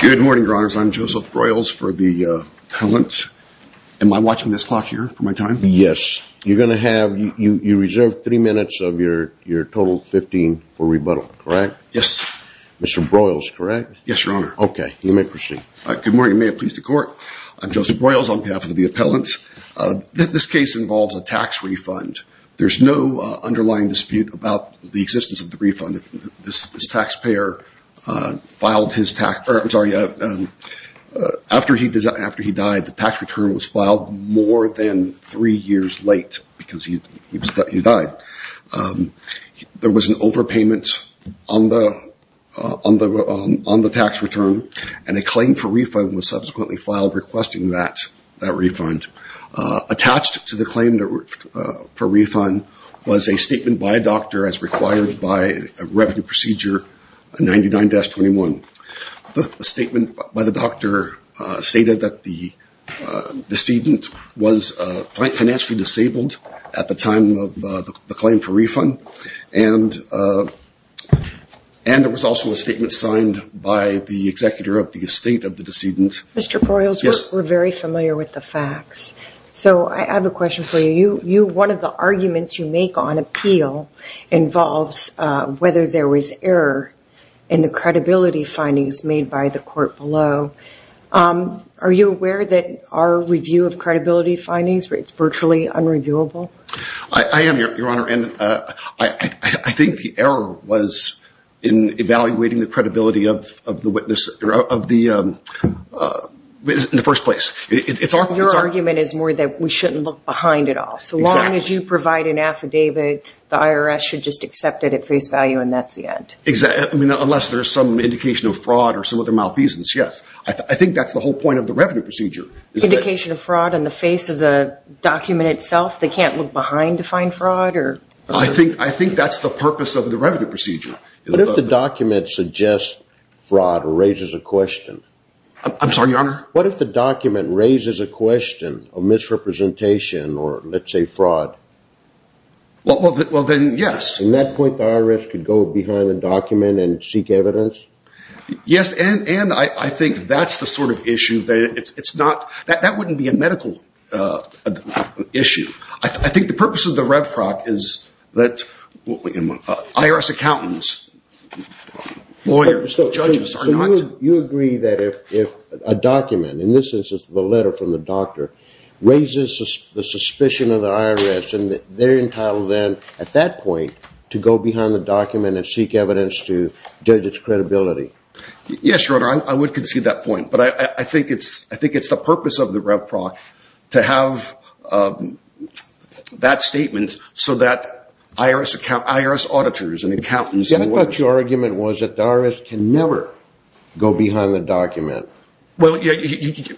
Good morning, your honors. I'm Joseph Broyles for the appellant. Am I watching this clock here for my time? Yes. You're going to have, you reserved three minutes of your total 15 for rebuttal, correct? Yes. Mr. Broyles, correct? Yes, your honor. Okay, you may proceed. Good morning, may it please the court. I'm Joseph Broyles on behalf of the appellant. This case involves a tax refund. There's no underlying dispute about the existence of the refund. This taxpayer filed his tax, sorry, after he died, the tax return was filed more than three years late because he died. There was an overpayment on the tax return and a claim for refund was subsequently filed requesting that refund. Attached to the claim for refund was a statement by a doctor as required by a revenue procedure 99-21. The statement by the doctor stated that the decedent was financially disabled at the time of the claim for refund and there was also a statement signed by the executor of the estate of the decedent. Mr. Broyles, we're very familiar with the facts, so I have a question for you. One of the arguments you make on appeal involves whether there was error in the credibility findings made by the court below. Are you aware that our review of credibility findings, it's virtually unreviewable? I am, your honor, and I think the error was in evaluating the credibility of the witness, of the, in the first place. Your argument is more that we shouldn't look behind it all, so long as you provide an affidavit, the IRS should just accept it at face value and that's the end. Exactly, I mean, unless there's some indication of fraud or some other malfeasance, yes. I think that's the whole point of the revenue procedure. Indication of fraud in the face of the document itself, they can't look behind to find fraud? I think that's the purpose of the revenue procedure. What if the document suggests fraud or raises a question? I'm sorry, your honor? What if the document raises a question of misrepresentation or let's say fraud? Well, then yes. In that point, the IRS could go behind the document and seek evidence? Yes, and I think that's the sort of issue that it's not, that wouldn't be a medical issue. I IRS accountants, lawyers, judges are not. You agree that if a document, in this instance, the letter from the doctor, raises the suspicion of the IRS and they're entitled then at that point to go behind the document and seek evidence to judge its credibility? Yes, your honor, I would concede that point, but I think it's, I think it's the purpose of the rev proc to have that statement so that IRS auditors and accountants- I thought your argument was that the IRS can never go behind the document. You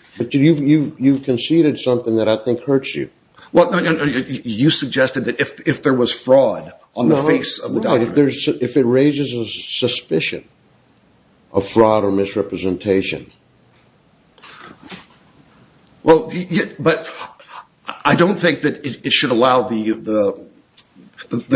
conceded something that I think hurts you. Well, you suggested that if there was fraud on the face of the document- If it raises a suspicion of fraud or misrepresentation. Well, but I don't think that it should allow the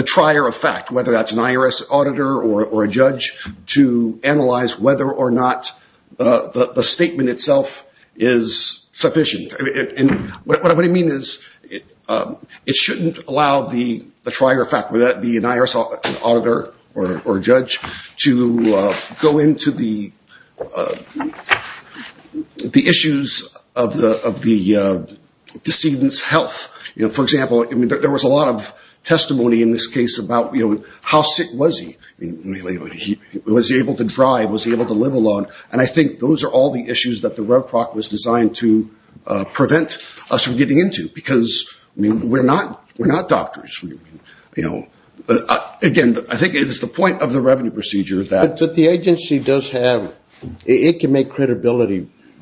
trier of fact, whether that's an IRS auditor or a judge, to analyze whether or not the statement itself is sufficient. And what I mean is, it shouldn't allow the trier of fact, whether that be an IRS auditor or judge, to go into the issues of the decedent's health. For example, there was a lot of testimony in this case about how sick was he? Was he able to drive? Was he able to live alone? And I think those are all the issues that the rev proc was designed to prevent us from getting into because we're not doctors. Again, I think it is the point of the revenue procedure that-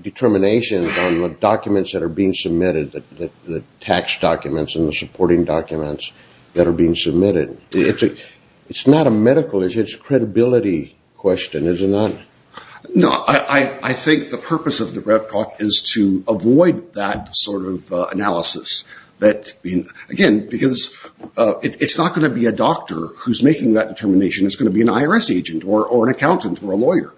Determinations on the documents that are being submitted, the tax documents and the supporting documents that are being submitted. It's not a medical issue. It's a credibility question, isn't it? No. I think the purpose of the rev proc is to avoid that sort of analysis. Again, because it's not going to be a doctor who's making that determination. It's going to be an accountant's lawyers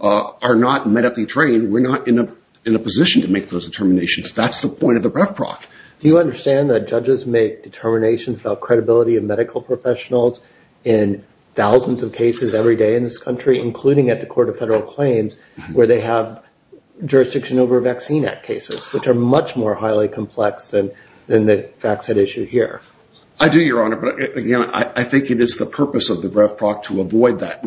are not medically trained. We're not in a position to make those determinations. That's the point of the rev proc. Do you understand that judges make determinations about credibility of medical professionals in thousands of cases every day in this country, including at the court of federal claims, where they have jurisdiction over vaccine act cases, which are much more highly complex than the facts at issue here. I do, your honor. But again, I think it is the purpose of the rev proc to avoid that.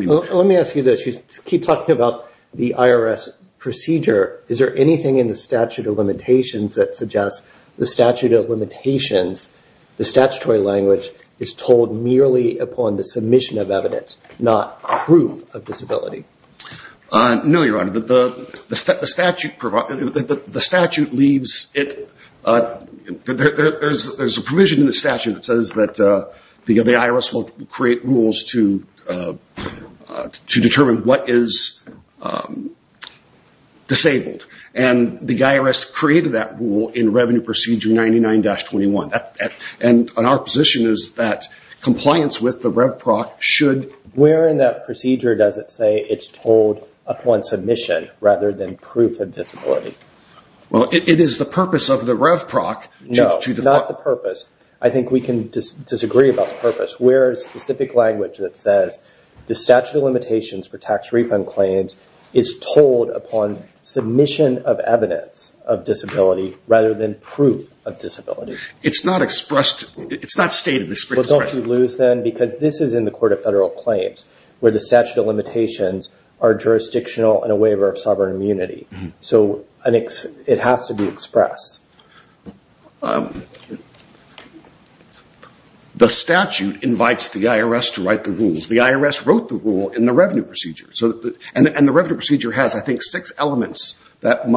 Keep talking about the IRS procedure. Is there anything in the statute of limitations that suggests the statute of limitations, the statutory language is told merely upon the submission of evidence, not proof of disability? No, your honor. There's a provision in the statute of limitations to determine what is disabled. The IRS created that rule in revenue procedure 99-21. Our position is that compliance with the rev proc should- Where in that procedure does it say it's told upon submission rather than proof of disability? Well, it is the purpose of the rev proc to- No, not the purpose. I think we can disagree about the purpose. Where is the specific language that says the statute of limitations for tax refund claims is told upon submission of evidence of disability rather than proof of disability? It's not expressed. It's not stated. Well, don't you lose then, because this is in the court of federal claims, where the statute of limitations are jurisdictional in a waiver of sovereign immunity. So it has to be expressed. The statute invites the IRS to write the rules. The IRS wrote the rule in the revenue procedure. And the revenue procedure has, I think, six elements that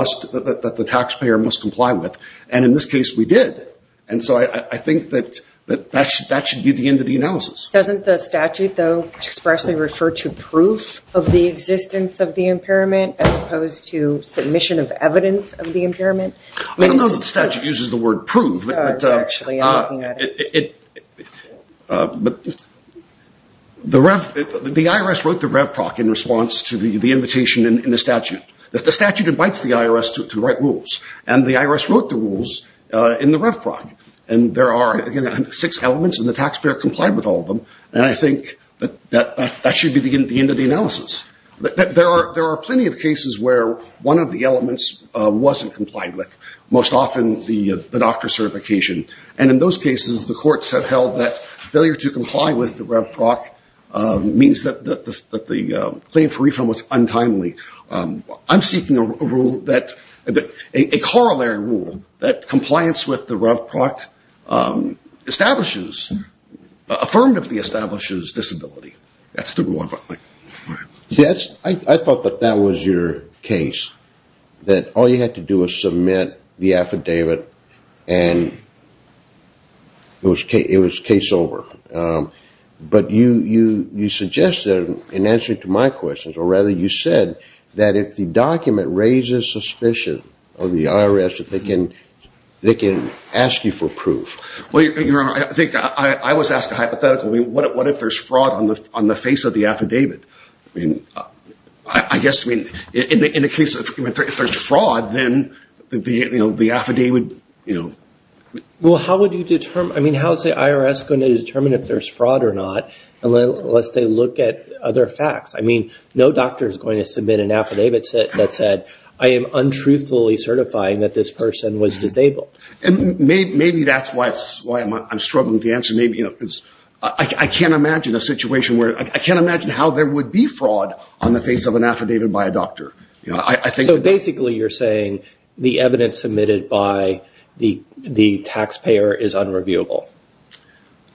the taxpayer must comply with. And in this case, we did. And so I think that that should be the end of the analysis. Doesn't the statute, though, expressly refer to proof of the existence of the impairment as to submission of evidence of the impairment? I don't know that the statute uses the word prove. But the IRS wrote the rev proc in response to the invitation in the statute. The statute invites the IRS to write rules. And the IRS wrote the rules in the rev proc. And there are, again, six elements. And the taxpayer complied with all of them. And I think that that should be the end of the analysis. There are plenty of cases where one of the elements wasn't complied with, most often the doctor certification. And in those cases, the courts have held that failure to comply with the rev proc means that the claim for refund was untimely. I'm seeking a corollary rule that compliance with the rev proc establishes, affirmatively establishes disability. That's the one. I thought that that was your case. That all you had to do was submit the affidavit and it was case over. But you suggested, in answer to my questions, or rather you said that if the document raises suspicion of the IRS, that they can ask you for proof. Well, Your Honor, I think I was asked a hypothetical. What if there's fraud on the face of the affidavit? I guess, I mean, in the case if there's fraud, then the affidavit, you know. Well, how would you determine? I mean, how's the IRS going to determine if there's fraud or not unless they look at other facts? I mean, no doctor is going to submit an affidavit that said, I am untruthfully certifying that this person was disabled. Maybe that's why I'm struggling with the answer. I can't imagine a situation where, I can't imagine how there would be fraud on the face of an affidavit by a doctor. Basically, you're saying the evidence submitted by the taxpayer is unreviewable.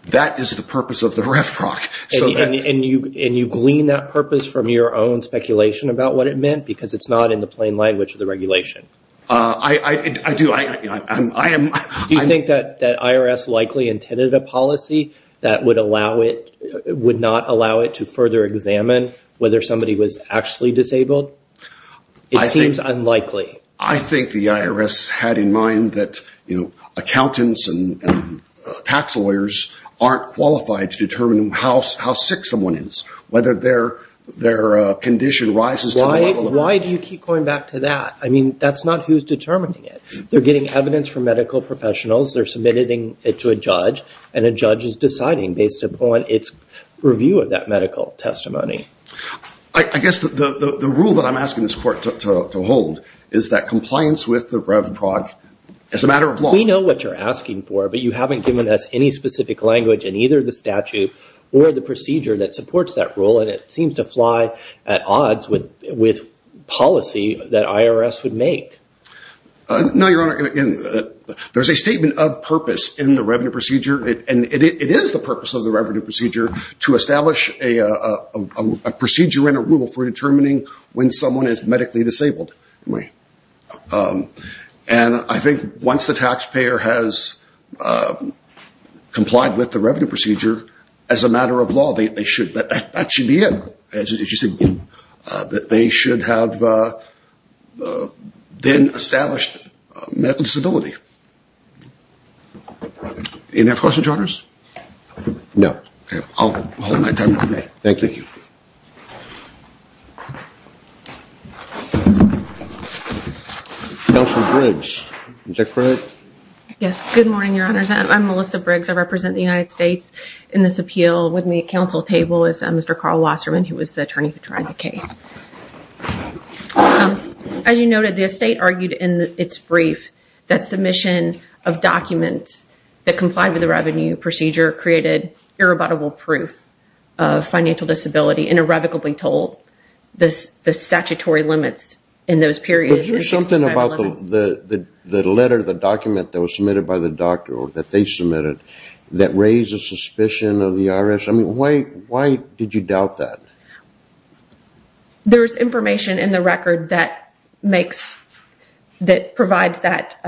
That is the purpose of the ref rock. And you glean that purpose from your own speculation about what it meant because it's not in the plain language of the regulation. Do you think that IRS likely intended a policy that would not allow it to further examine whether somebody was actually disabled? It seems unlikely. I think the IRS had in mind that, you know, accountants and tax lawyers aren't qualified to determine how sick someone is, whether their condition rises. Why do you keep going back to that? I mean, that's not who's determining it. They're getting evidence from medical professionals. They're submitting it to a judge and a judge is deciding based upon its review of that medical testimony. I guess the rule that I'm asking this court to hold is that compliance with the rev rock is a matter of law. We know what you're asking for, but you haven't given us any specific language in either the statute or the procedure that supports that rule. And it seems to fly at odds with policy that IRS would make. No, Your Honor, there's a statement of purpose in the revenue procedure. And it is the purpose of the revenue procedure to establish a procedure and a rule for determining when someone is medically disabled. And I think once the taxpayer has complied with the revenue procedure, as a matter of law, that should be it. They should have then established medical disability. Any other questions, Your Honors? No. Okay. I'll hold my time. Thank you. Counselor Briggs, is that correct? Yes. Good morning, Your Honors. I'm Melissa Briggs. I represent the United States in this appeal with me at counsel table is Mr. Carl Wasserman, who was the attorney who tried the case. As you noted, the estate argued in its brief that submission of documents that complied with the revenue procedure created irrebuttable proof of financial disability and irrevocably told the statutory limits in those periods. But here's something about the letter, the document that was submitted by the doctor or that they submitted that raised a suspicion of the IRS. I mean, why did you doubt that? So there's information in the record that provides that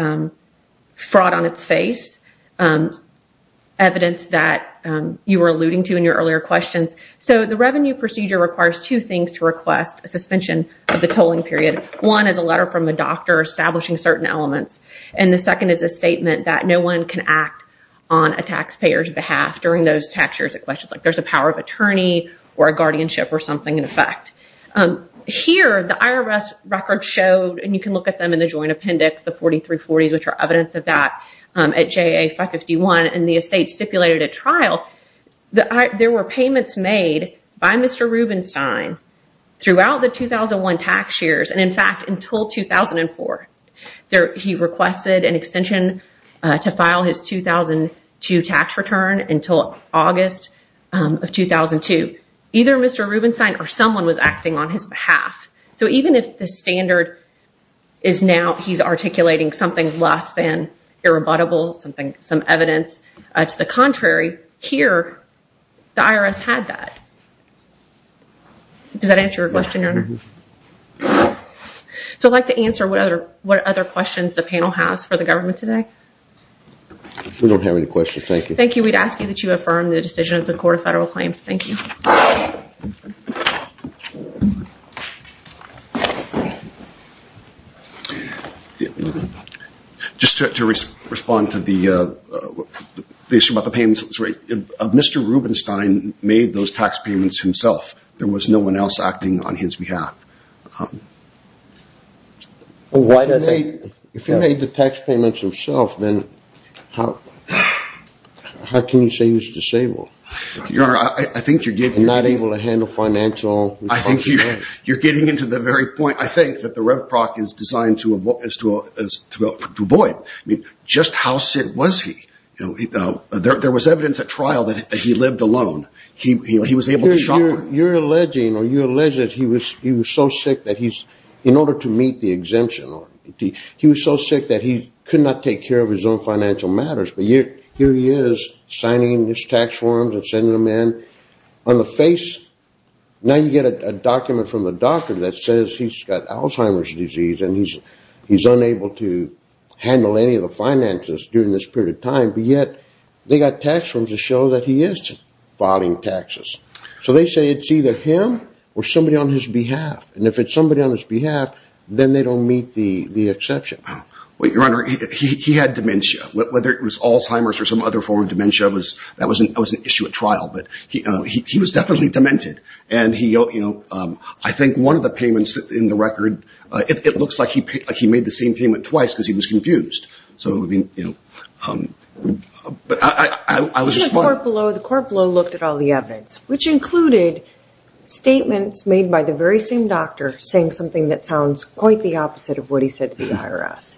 fraud on its face, evidence that you were alluding to in your earlier questions. So the revenue procedure requires two things to request a suspension of the tolling period. One is a letter from a doctor establishing certain elements. And the second is a statement that no one can act on a taxpayer's behalf during those tax years. It questions like there's a power of attorney or a guardianship or something in effect. Here, the IRS record showed, and you can look at them in the joint appendix, the 4340s, which are evidence of that at JA 551 and the estate stipulated a trial. There were payments made by Mr. Rubenstein throughout the 2001 tax years. And in fact, until 2004, he requested an extension to file his 2002 tax return until August of 2002. Either Mr. Rubenstein or someone was acting on his behalf. So even if the standard is now he's articulating something less than irrebuttable, some evidence to the contrary, here, the IRS had that. Does that answer your question, Your Honor? So I'd like to answer what other questions the panel has for the government today. We don't have any questions. Thank you. Thank you. We'd ask you that you affirm the decision of the Court of Federal Claims. Thank you. Just to respond to the issue about the payments, Mr. Rubenstein made those tax payments himself. There was no one else acting on his behalf. If he made the tax payments himself, then how can you say he's disabled? I think you're getting... Not able to handle financial... I think you're getting into the very point, I think, that the Rev Proc is designed to avoid. Just how sick was he? There was evidence at trial that he lived alone. He was able to shop. You're alleging that he was so sick that he's... In order to meet the exemption, he was so sick that he could not take care of his own financial matters. But here he is, signing his tax forms and sending them in on the face. Now you get a document from the doctor that says he's got Alzheimer's disease and he's unable to handle any of the finances during this period of time. But yet, they got tax forms to show that he is filing taxes. So they say it's either him or somebody on his behalf. And if it's somebody on his behalf, then they don't meet the exception. Well, Your Honor, he had dementia. Whether it was Alzheimer's or some other form of dementia, that was an issue at trial. But he was definitely demented. And I think one of the payments in the record, it looks like he made the same payment twice because he was confused. But I was just... The court below looked at all the evidence, which included statements made by the very same doctor saying something that sounds quite the opposite of what he said to the IRS.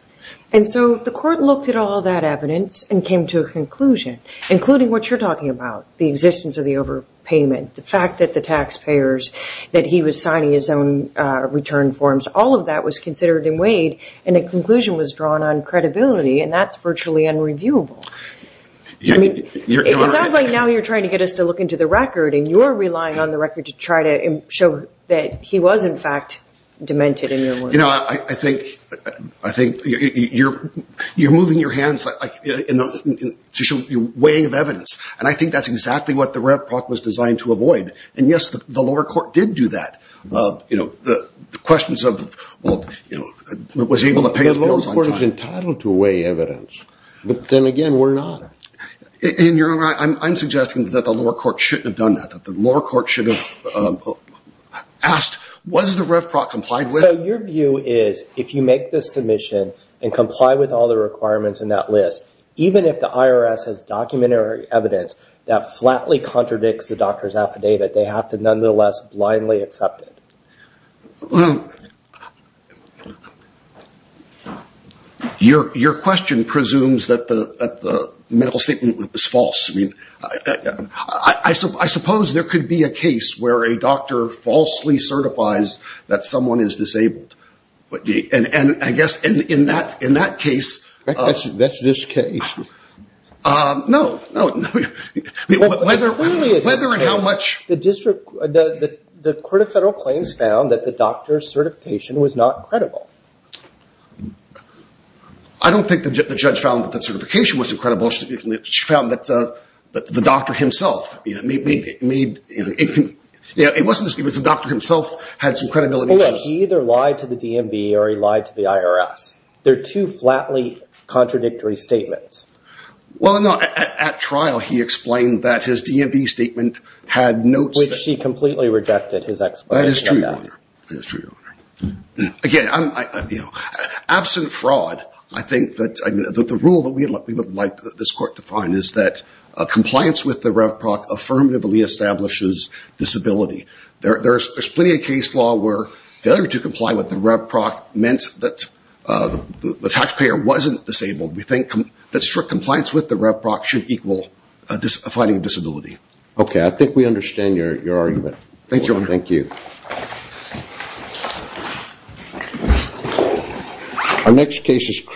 And so the court looked at all that evidence and came to a conclusion, including what you're talking about, the existence of the overpayment, the fact that the taxpayers, that he was signing his own return forms, all of that was considered in Wade. And the conclusion was drawn on credibility. And that's virtually unreviewable. It sounds like now you're trying to get us to look into the record and you're relying on the record to try to show that he was, in fact, demented in your words. You know, I think you're moving your hands to show your weighing of evidence. And I think that's exactly what the Rep Proc was designed to avoid. And yes, the lower court did do that. The questions of, well, was he able to pay his bills on time? The lower court is entitled to weigh evidence. But then again, we're not. And Your Honor, I'm suggesting that the lower court should have asked, was the Rep Proc complied with? So your view is, if you make this submission and comply with all the requirements in that list, even if the IRS has documented evidence that flatly contradicts the doctor's affidavit, they have to nonetheless blindly accept it. Your question presumes that the medical statement was false. I mean, where a doctor falsely certifies that someone is disabled. And I guess in that case— That's this case. No, no. Whether and how much— The court of federal claims found that the doctor's certification was not credible. I don't think the judge found that the certification was incredible. She found that the doctor himself made— It wasn't just the doctor himself had some credibility. He either lied to the DMV or he lied to the IRS. They're two flatly contradictory statements. Well, no. At trial, he explained that his DMV statement had notes— Which he completely rejected his explanation of that. That is true, Your Honor. That is true, Your Honor. Again, absent fraud, I think that the rule that we would like this court to find is that compliance with the RevPROC affirmatively establishes disability. There's plenty of case law where failure to comply with the RevPROC meant that the taxpayer wasn't disabled. We think that strict compliance with the RevPROC should equal a finding of disability. Okay. I think we understand your argument. Thank you, Your Honor. Thank you. Our next case is